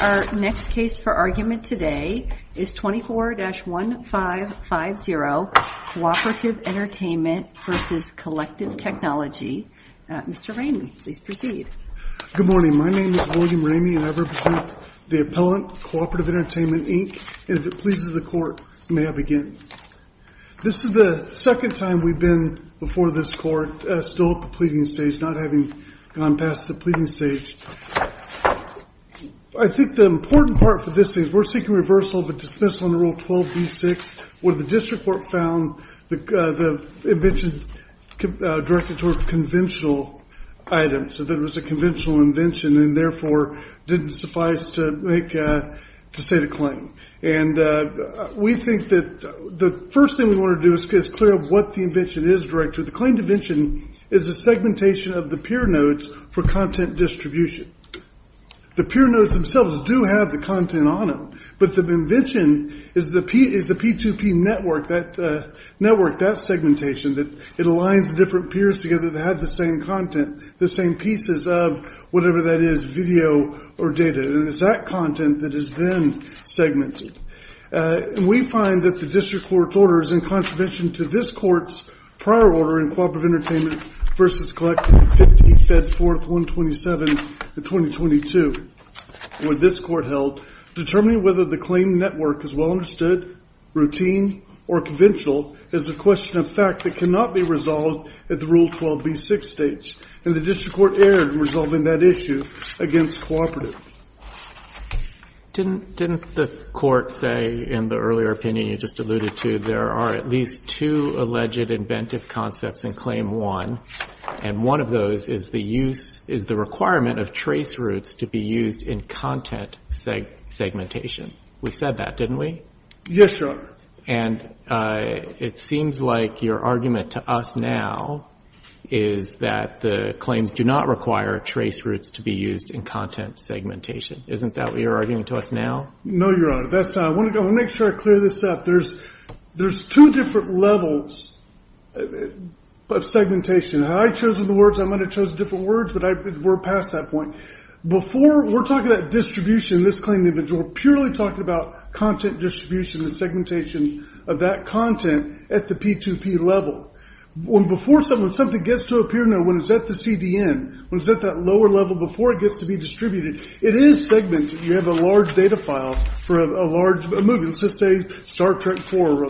Our next case for argument today is 24-1550, Cooperative Entertainment v. Kollective Technology. Mr. Ramey, please proceed. Good morning. My name is William Ramey and I represent the Appellant, Cooperative Entertainment, Inc. If it pleases the Court, may I begin? This is the second time we've been before this Court, still at the pleading stage, not having gone past the pleading stage. I think the important part for this case, we're seeking reversal of a dismissal under Rule 12b-6 where the district court found the invention directed towards conventional items, that it was a conventional invention and therefore didn't suffice to state a claim. We think that the first thing we want to do is get us clear of what the invention is directed to. The claim to invention is the segmentation of the peer notes for content distribution. The peer notes themselves do have the content on them, but the invention is the P2P network, that segmentation, that it aligns different peers together that have the same content, the same pieces of whatever that is, video or data, and it's that content that is then segmented. We find that the district court's order is in contravention to this court's prior order in Cooperative Entertainment v. Collective 50, Fed 4th, 127, 2022, where this court held determining whether the claim network is well understood, routine, or conventional is a question of fact that cannot be resolved at the Rule 12b-6 stage, and the district court erred in resolving that issue against Cooperative. Didn't the court say in the earlier opinion you just alluded to, there are at least two alleged inventive concepts in Claim 1, and one of those is the use, is the requirement of trace routes to be used in content segmentation. We said that, didn't we? Yes, Your Honor. And it seems like your argument to us now is that the claims do not require trace routes to be used in content segmentation. Isn't that what you're arguing to us now? No, Your Honor. That's not. I want to make sure I clear this up. There's two different levels of segmentation. Had I chosen the words, I might have chosen different words, but we're past that point. Before, we're talking about distribution in this claim image. We're purely talking about content distribution, the segmentation of that content at the P2P level. Before something gets to appear, when it's at the CDN, when it's at that lower level before it gets to be distributed, it is segmented. You have a large data file for a large movie, let's just say Star Trek 4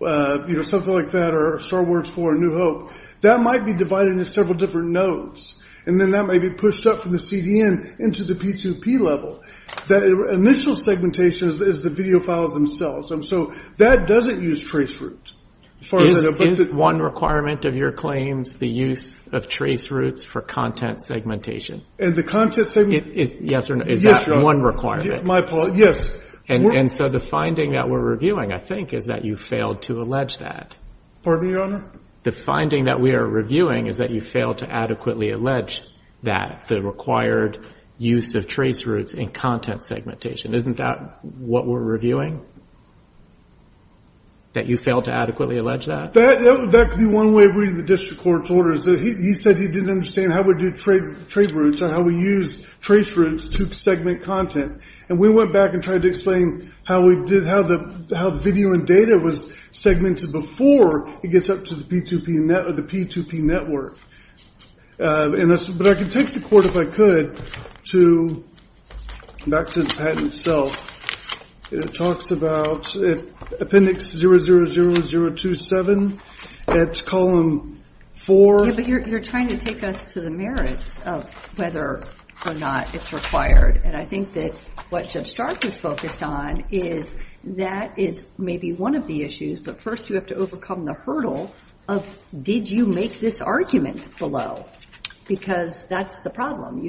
or something like that or Star Wars 4 or New Hope. That might be divided into several different nodes, and then that may be pushed up from the CDN into the P2P level. That initial segmentation is the video files themselves, and so that doesn't use trace routes. As far as I know. Is one requirement of your claims the use of trace routes for content segmentation? Yes or no? Yes, Your Honor. Is that one requirement? My apologies. Yes. And so the finding that we're reviewing, I think, is that you failed to allege that. Pardon me, Your Honor? The finding that we are reviewing is that you failed to adequately allege that the required use of trace routes in content segmentation. Isn't that what we're reviewing? That you failed to adequately allege that? That could be one way of reading the district court's orders. He said he didn't understand how we do trade routes or how we use trace routes to segment content. And we went back and tried to explain how video and data was segmented before it gets up to the P2P network, but I can take the court, if I could, back to the patent itself. It talks about Appendix 00027. It's column 4. Yeah, but you're trying to take us to the merits of whether or not it's required. And I think that what Judge Stark is focused on is that is maybe one of the issues, but first you have to overcome the hurdle of did you make this argument below? Because that's the problem.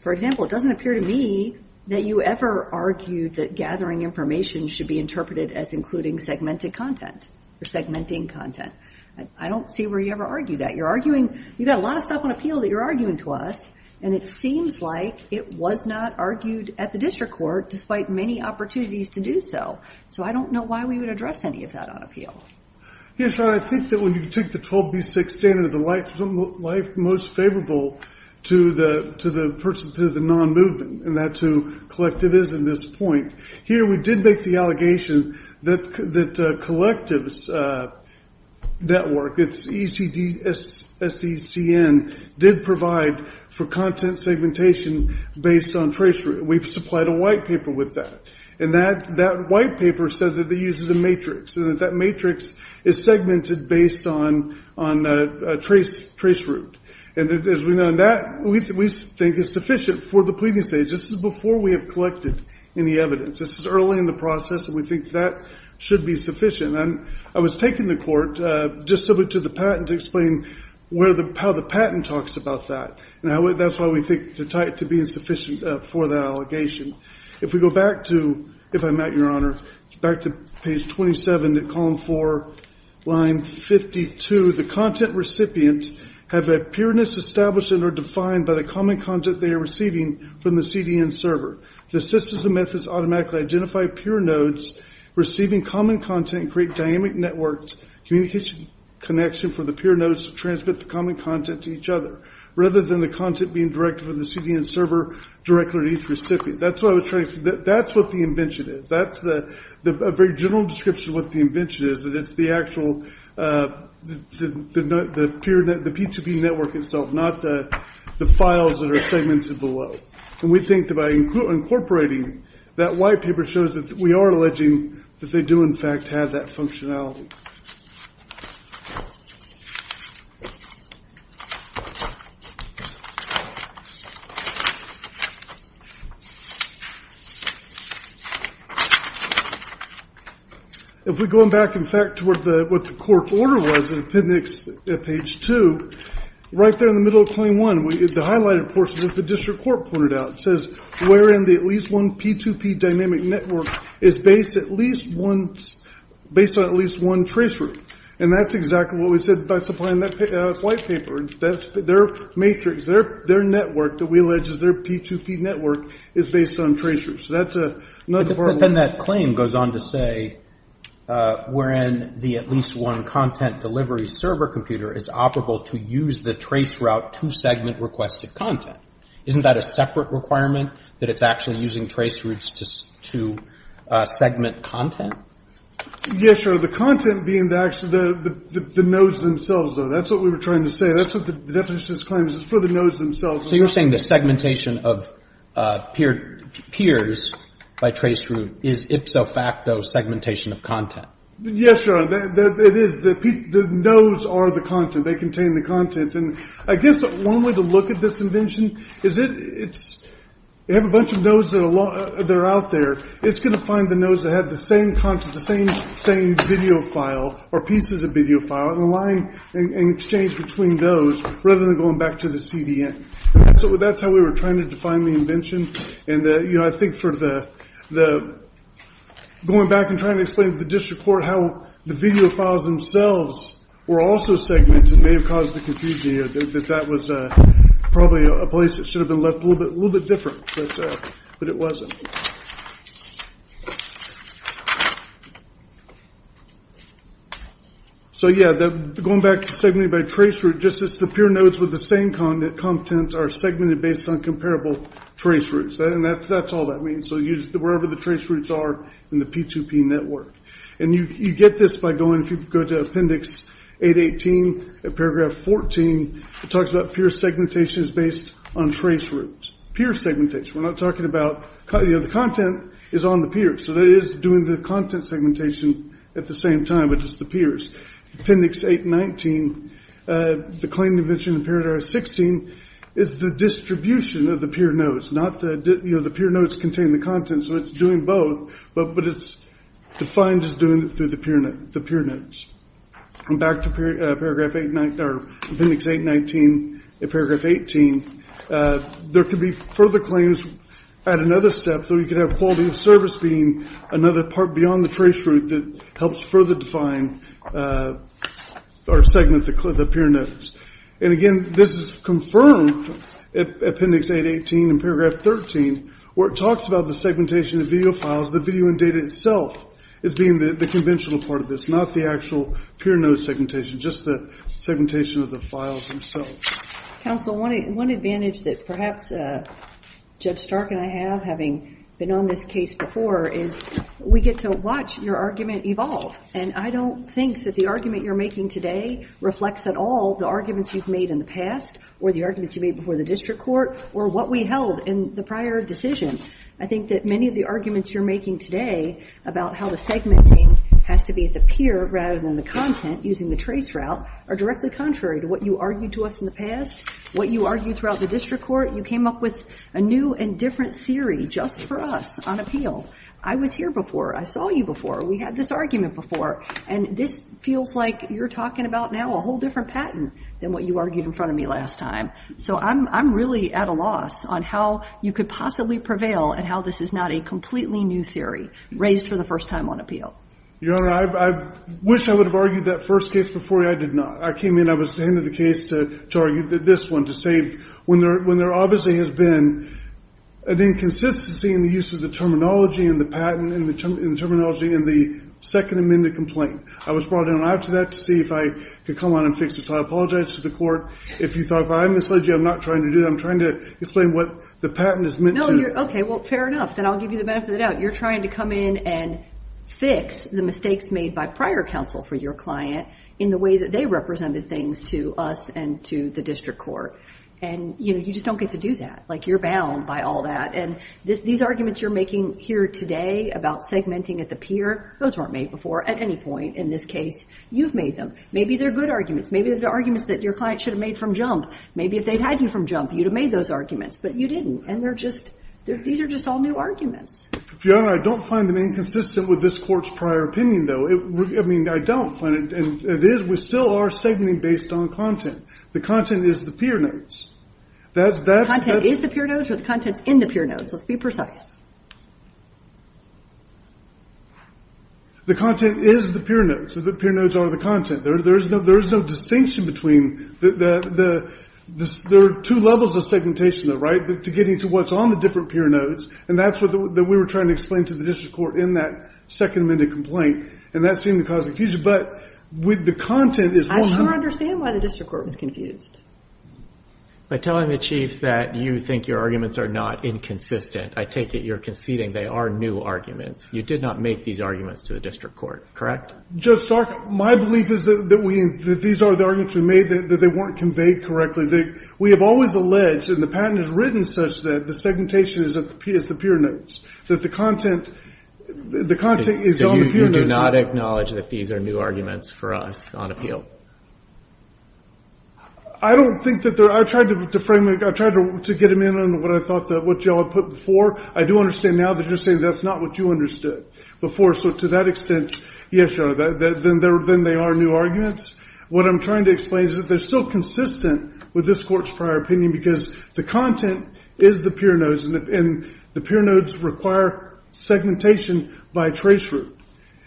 For example, it doesn't appear to me that you ever argued that gathering information should be interpreted as including segmented content or segmenting content. I don't see where you ever argued that. You've got a lot of stuff on appeal that you're arguing to us, and it seems like it was not argued at the district court despite many opportunities to do so. So I don't know why we would address any of that on appeal. Yes, Your Honor, I think that when you take the 12B6 standard, the life most favorable to the person, to the non-movement, and that's who Collective is at this point. Here we did make the allegation that Collective's network, it's ECDSECN, did provide for content segmentation based on tracery. We've supplied a white paper with that, and that white paper said that it uses a matrix and that that matrix is segmented based on a trace route. And as we know that, we think it's sufficient for the pleading stage. This is before we have collected any evidence. This is early in the process, and we think that should be sufficient. I was taking the court just simply to the patent to explain how the patent talks about that, and that's why we think to tie it to being sufficient for that allegation. If we go back to, if I'm at, Your Honor, back to page 27, column 4, line 52, the content recipient have a pureness established and are defined by the common content they are receiving from the CDN server. The systems and methods automatically identify pure nodes receiving common content and create dynamic networks, communication connection for the pure nodes to transmit the common content to each other, rather than the content being directed from the CDN server directly to each recipient. That's what the invention is. That's a very general description of what the invention is, that it's the actual, the P2P network itself, not the files that are segmented below. We think that by incorporating that white paper shows that we are alleging that they do in fact have that functionality. If we go back, in fact, to what the court's order was in appendix, page 2, right there in the middle of claim 1, the highlighted portion that the district court pointed out, it says wherein the at least one P2P dynamic network is based at least once, based on at least one traceroute, and that's exactly what we said by supplying that white paper. In other words, their matrix, their network that we allege is their P2P network is based on traceroutes. So that's a... But then that claim goes on to say wherein the at least one content delivery server computer is operable to use the traceroute to segment requested content. Isn't that a separate requirement that it's actually using traceroutes to segment content? Yeah, sure. The content being the nodes themselves, though, that's what we were trying to say. That's what the definition of this claim is, it's for the nodes themselves. So you're saying the segmentation of peers by traceroute is ipso facto segmentation of content? Yes, Your Honor. It is. The nodes are the content. They contain the content. And I guess one way to look at this invention is it's, you have a bunch of nodes that are out there. It's going to find the nodes that have the same content, the same video file or pieces of video file, and align and exchange between those, rather than going back to the CDN. So that's how we were trying to define the invention. And I think for the, going back and trying to explain to the district court how the video files themselves were also segmented may have caused the confusion here, that that was probably a place that should have been left a little bit different, but it wasn't. So, yeah, going back to segmenting by traceroute, just as the peer nodes with the same content are segmented based on comparable traceroutes, and that's all that means. So wherever the traceroutes are in the P2P network. And you get this by going, if you go to Appendix 818, paragraph 14, it talks about peer segmentation is based on traceroutes. Peer segmentation. We're not talking about, you know, the content is on the peers. So that is doing the content segmentation at the same time, but it's the peers. Appendix 819, the claim to invention in Paragraph 16 is the distribution of the peer nodes, not the, you know, the peer nodes contain the content, so it's doing both, but it's defined as doing it through the peer nodes. And back to Paragraph 819, or Appendix 819, Paragraph 18, there could be further claims at another step, so you could have quality of service being another part beyond the traceroute that helps further define or segment the peer nodes. And again, this is confirmed at Appendix 818 and Paragraph 13, where it talks about the segmentation of video files, the video and data itself as being the conventional part of this, not the actual peer node segmentation, just the segmentation of the files themselves. Counsel, one advantage that perhaps Judge Stark and I have, having been on this case before, is we get to watch your argument evolve, and I don't think that the argument you're making today reflects at all the arguments you've made in the past, or the arguments you've made before the district court, or what we held in the prior decision. I think that many of the arguments you're making today about how the segmenting has to be at the peer rather than the content, using the traceroute, are directly contrary to what you argued to us in the past, what you argued throughout the district court. You came up with a new and different theory just for us on appeal. I was here before, I saw you before, we had this argument before, and this feels like you're talking about now a whole different patent than what you argued in front of me last time. So I'm really at a loss on how you could possibly prevail and how this is not a completely new theory raised for the first time on appeal. Your Honor, I wish I would have argued that first case before you. I did not. I came in, I was the hand of the case to argue this one, to say when there obviously has been an inconsistency in the use of the terminology in the patent, in the terminology in the second amended complaint. I was brought in after that to see if I could come on and fix this. I apologize to the court. If you thought that I misled you, I'm not trying to do that, I'm trying to explain what the patent is meant to. No, you're, okay, well fair enough, then I'll give you the benefit of the doubt. You're trying to come in and fix the mistakes made by prior counsel for your client in the way that they represented things to us and to the district court, and you just don't get to do that. You're bound by all that, and these arguments you're making here today about segmenting at the peer, those weren't made before at any point in this case. You've made them. Maybe they're good arguments. Maybe they're arguments that your client should have made from jump. Maybe if they'd had you from jump, you'd have made those arguments, but you didn't, and they're just, these are just all new arguments. Your Honor, I don't find them inconsistent with this court's prior opinion, though. I mean, I don't find it, and it is, we still are segmenting based on content. The content is the peer notes. That's The content is the peer notes, or the content's in the peer notes, let's be precise. The content is the peer notes, the peer notes are the content. There's no distinction between, there are two levels of segmentation, right, to getting to what's on the different peer notes, and that's what we were trying to explain to the district court in that second amended complaint, and that seemed to cause confusion, but with the content is I don't understand why the district court was confused. By telling the chief that you think your arguments are not inconsistent, I take it you're conceding they are new arguments. You did not make these arguments to the district court, correct? Judge Stark, my belief is that these are the arguments we made, that they weren't conveyed correctly. We have always alleged, and the patent is written such that the segmentation is the peer notes, that the content is on the peer notes. So you do not acknowledge that these are new arguments for us on appeal? I don't think that they're, I tried to frame it, I tried to get them in on what I thought that what y'all put before, I do understand now that you're saying that's not what you understood before, so to that extent, yes, Your Honor, then they are new arguments. What I'm trying to explain is that they're still consistent with this court's prior opinion because the content is the peer notes, and the peer notes require segmentation by traceroute.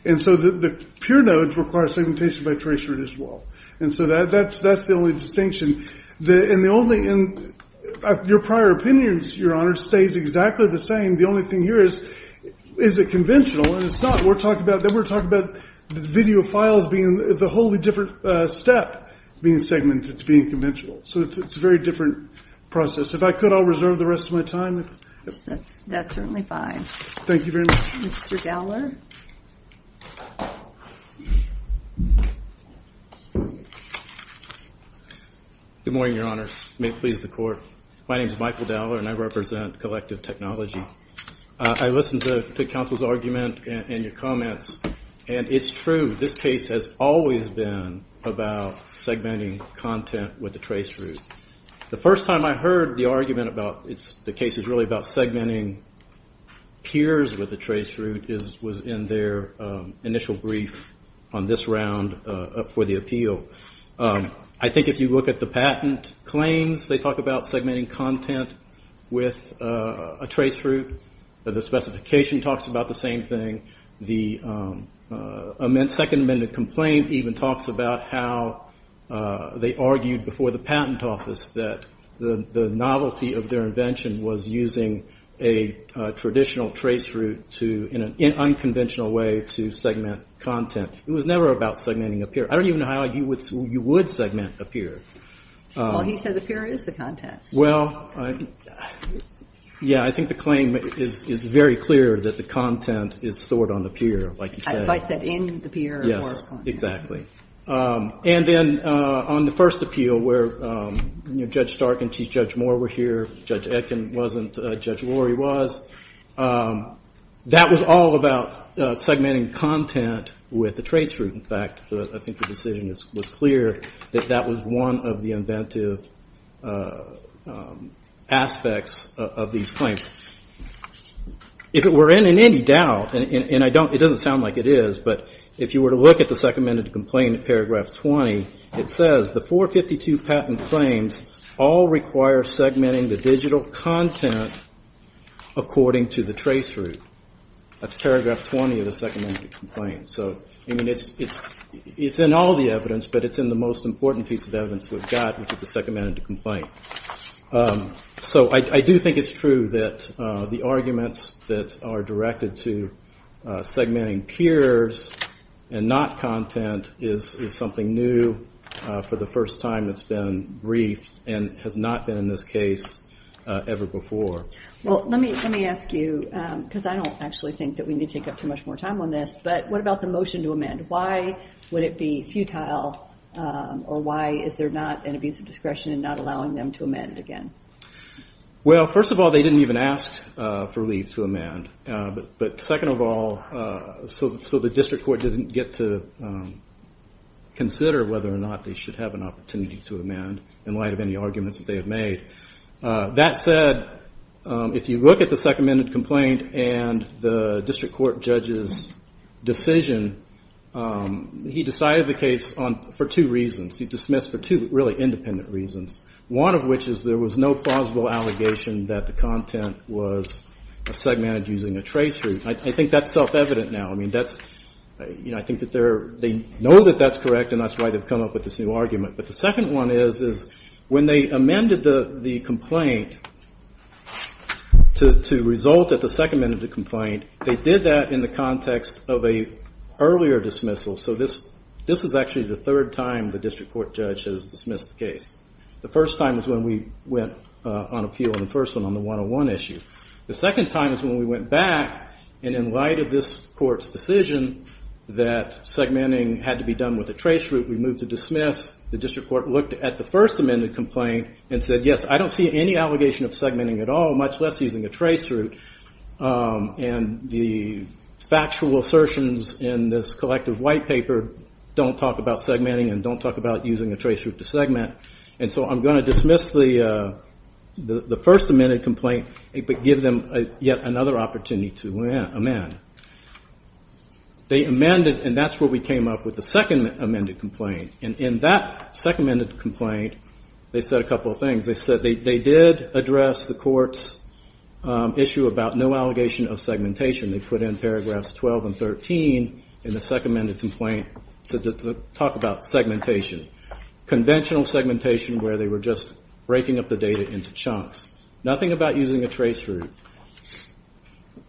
And so the peer notes require segmentation by traceroute as well. And so that's the only distinction, and the only, your prior opinions, Your Honor, stays exactly the same. The only thing here is, is it conventional, and it's not. Then we're talking about video files being the wholly different step, being segmented to being conventional. So it's a very different process. If I could, I'll reserve the rest of my time. That's certainly fine. Thank you very much. Mr. Dowler? Good morning, Your Honor. May it please the Court. My name is Michael Dowler, and I represent Collective Technology. I listened to the counsel's argument and your comments, and it's true, this case has always been about segmenting content with a traceroute. The first time I heard the argument about the case is really about segmenting peers with a traceroute was in their initial brief on this round for the appeal. I think if you look at the patent claims, they talk about segmenting content with a traceroute. The specification talks about the same thing. The second amendment complaint even talks about how they argued before the patent office that the novelty of their invention was using a traditional traceroute in an unconventional way to segment content. It was never about segmenting a peer. I don't even know how you would segment a peer. Well, he said the peer is the content. Well, yeah, I think the claim is very clear that the content is stored on the peer, like you said. So I said in the peer. Yes, exactly. And then on the first appeal where Judge Stark and Chief Judge Moore were here, Judge Etkin wasn't, Judge Lurie was, that was all about segmenting content with a traceroute, in fact. I think the decision was clear that that was one of the inventive aspects of these claims. If it were in any doubt, and it doesn't sound like it is, but if you were to look at the second amendment complaint in paragraph 20, it says the 452 patent claims all require segmenting the digital content according to the traceroute. That's paragraph 20 of the second amendment complaint. So, I mean, it's in all the evidence, but it's in the most important piece of evidence we've got, which is the second amendment complaint. So I do think it's true that the arguments that are directed to segmenting peers and not content is something new for the first time that's been briefed and has not been in this case ever before. Well, let me ask you, because I don't actually think that we need to take up too much more time on this, but what about the motion to amend? Why would it be futile, or why is there not an abuse of discretion in not allowing them to amend again? Well, first of all, they didn't even ask for leave to amend. But second of all, so the district court didn't get to consider whether or not they should have an opportunity to amend in light of any arguments that they had made. That said, if you look at the second amendment complaint and the district court judge's decision, he decided the case for two reasons. He dismissed for two really independent reasons, one of which is there was no plausible allegation that the content was segmented using a trace route. I think that's self-evident now. I mean, I think that they know that that's correct, and that's why they've come up with this new argument. But the second one is, when they amended the complaint to result at the second amendment of the complaint, they did that in the context of an earlier dismissal. So this is actually the third time the district court judge has dismissed the case. The first time is when we went on appeal on the first one, on the 101 issue. The second time is when we went back, and in light of this court's decision that segmenting had to be done with a trace route, we moved to dismiss. The district court looked at the first amendment complaint and said, yes, I don't see any allegation of segmenting at all, much less using a trace route. And the factual assertions in this collective white paper don't talk about segmenting and don't talk about using a trace route to segment. And so I'm going to dismiss the first amendment complaint, but give them yet another opportunity to amend. They amended, and that's where we came up with the second amended complaint. And in that second amended complaint, they said a couple of things. They said they did address the court's issue about no allegation of segmentation. They put in paragraphs 12 and 13 in the second amended complaint to talk about segmentation. Conventional segmentation, where they were just breaking up the data into chunks. Nothing about using a trace route.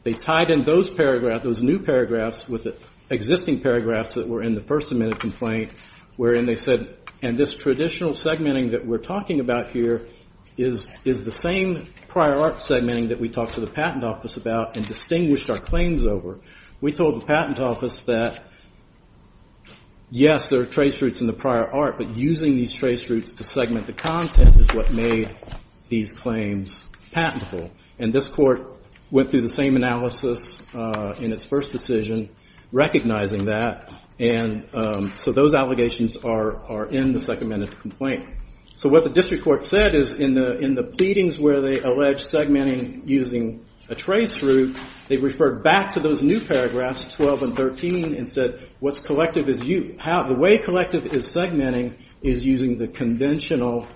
They tied in those paragraphs, those new paragraphs, with existing paragraphs that were in the first amended complaint, wherein they said, and this traditional segmenting that we're talking about here is the same prior art segmenting that we talked to the patent office about and distinguished our claims over. We told the patent office that, yes, there are trace routes in the prior art, but using these trace routes to segment the content is what made these claims patentable. And this court went through the same analysis in its first decision, recognizing that. And so those allegations are in the second amended complaint. So what the district court said is in the pleadings where they alleged segmenting using a trace route, they referred back to those new paragraphs, 12 and 13, and said, what's collective is you. The way collective is segmenting is using the conventional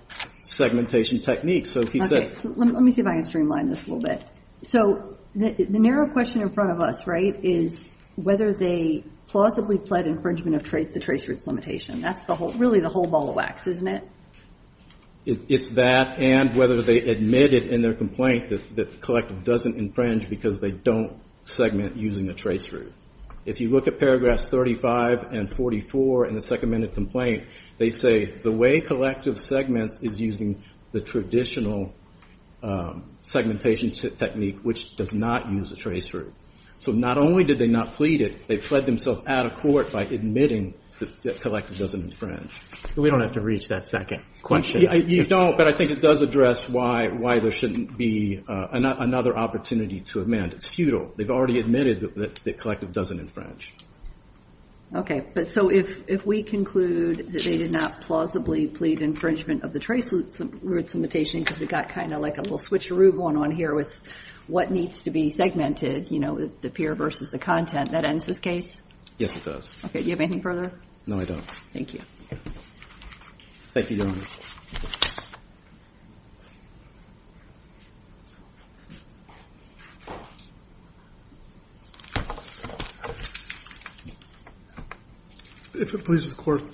segmentation technique. Okay. Let me see if I can streamline this a little bit. So the narrow question in front of us, right, is whether they plausibly pled infringement of the trace routes limitation. That's really the whole ball of wax, isn't it? It's that and whether they admitted in their complaint that collective doesn't infringe because they don't segment using a trace route. If you look at paragraphs 35 and 44 in the second amended complaint, they say the way collective segments is using the traditional segmentation technique, which does not use a trace route. So not only did they not plead it, they pled themselves out of court by admitting that collective doesn't infringe. We don't have to reach that second question. You don't, but I think it does address why there shouldn't be another opportunity to amend. It's futile. They've already admitted that collective doesn't infringe. Okay. So if we conclude that they did not plausibly plead infringement of the trace routes limitation because we've got kind of like a little switcheroo going on here with what needs to be segmented, you know, the peer versus the content, that ends this case? Yes, it does. Okay. Do you have anything further? No, I don't. Thank you. Thank you, Your Honor. If it pleases the Court,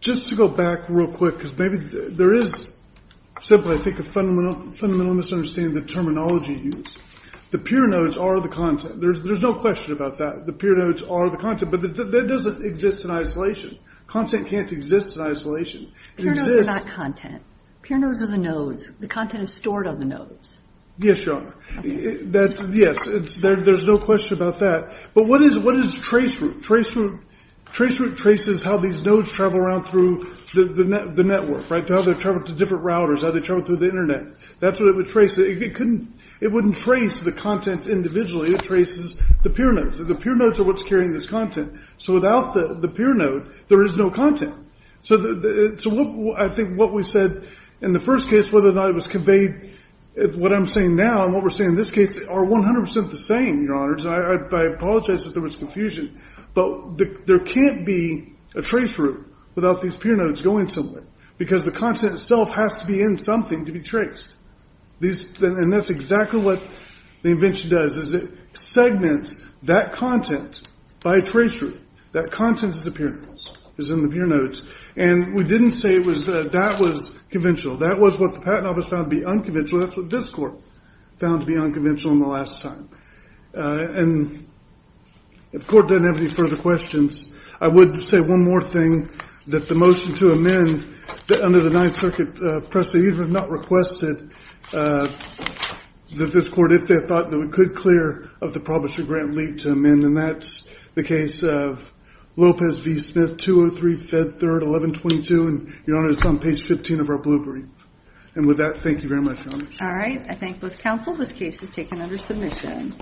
just to go back real quick because maybe there is simply, I think, a fundamental misunderstanding of the terminology used. The peer nodes are the content. There's no question about that. The peer nodes are the content, but that doesn't exist in isolation. Content can't exist in isolation. Peer nodes are not content. Peer nodes are the nodes. The content is stored on the nodes. Yes, Your Honor. Yes. There's no question about that. But what is trace route? Trace route traces how these nodes travel around through the network, right, how they travel to different routers, how they travel through the Internet. That's what it would trace. It wouldn't trace the content individually. It traces the peer nodes. The peer nodes are what's carrying this content. So without the peer node, there is no content. So I think what we said in the first case, whether or not it was conveyed, what I'm saying now and what we're saying in this case are 100% the same, Your Honors. And I apologize if there was confusion. But there can't be a trace route without these peer nodes going somewhere because the content itself has to be in something to be traced. And that's exactly what the invention does is it segments that content by a trace route. That content is the peer nodes, is in the peer nodes. And we didn't say that was conventional. That was what the patent office found to be unconventional. And so that's what this court found to be unconventional in the last time. And if the court doesn't have any further questions, I would say one more thing, that the motion to amend that under the Ninth Circuit precedent not requested that this court, if they thought that we could clear of the publisher grant, lead to amend. And that's the case of Lopez v. Smith, 203 Fed 3rd, 1122. And, Your Honors, it's on page 15 of our blueprint. And with that, thank you very much, Your Honors. All right, I thank both counsel. This case is taken under submission.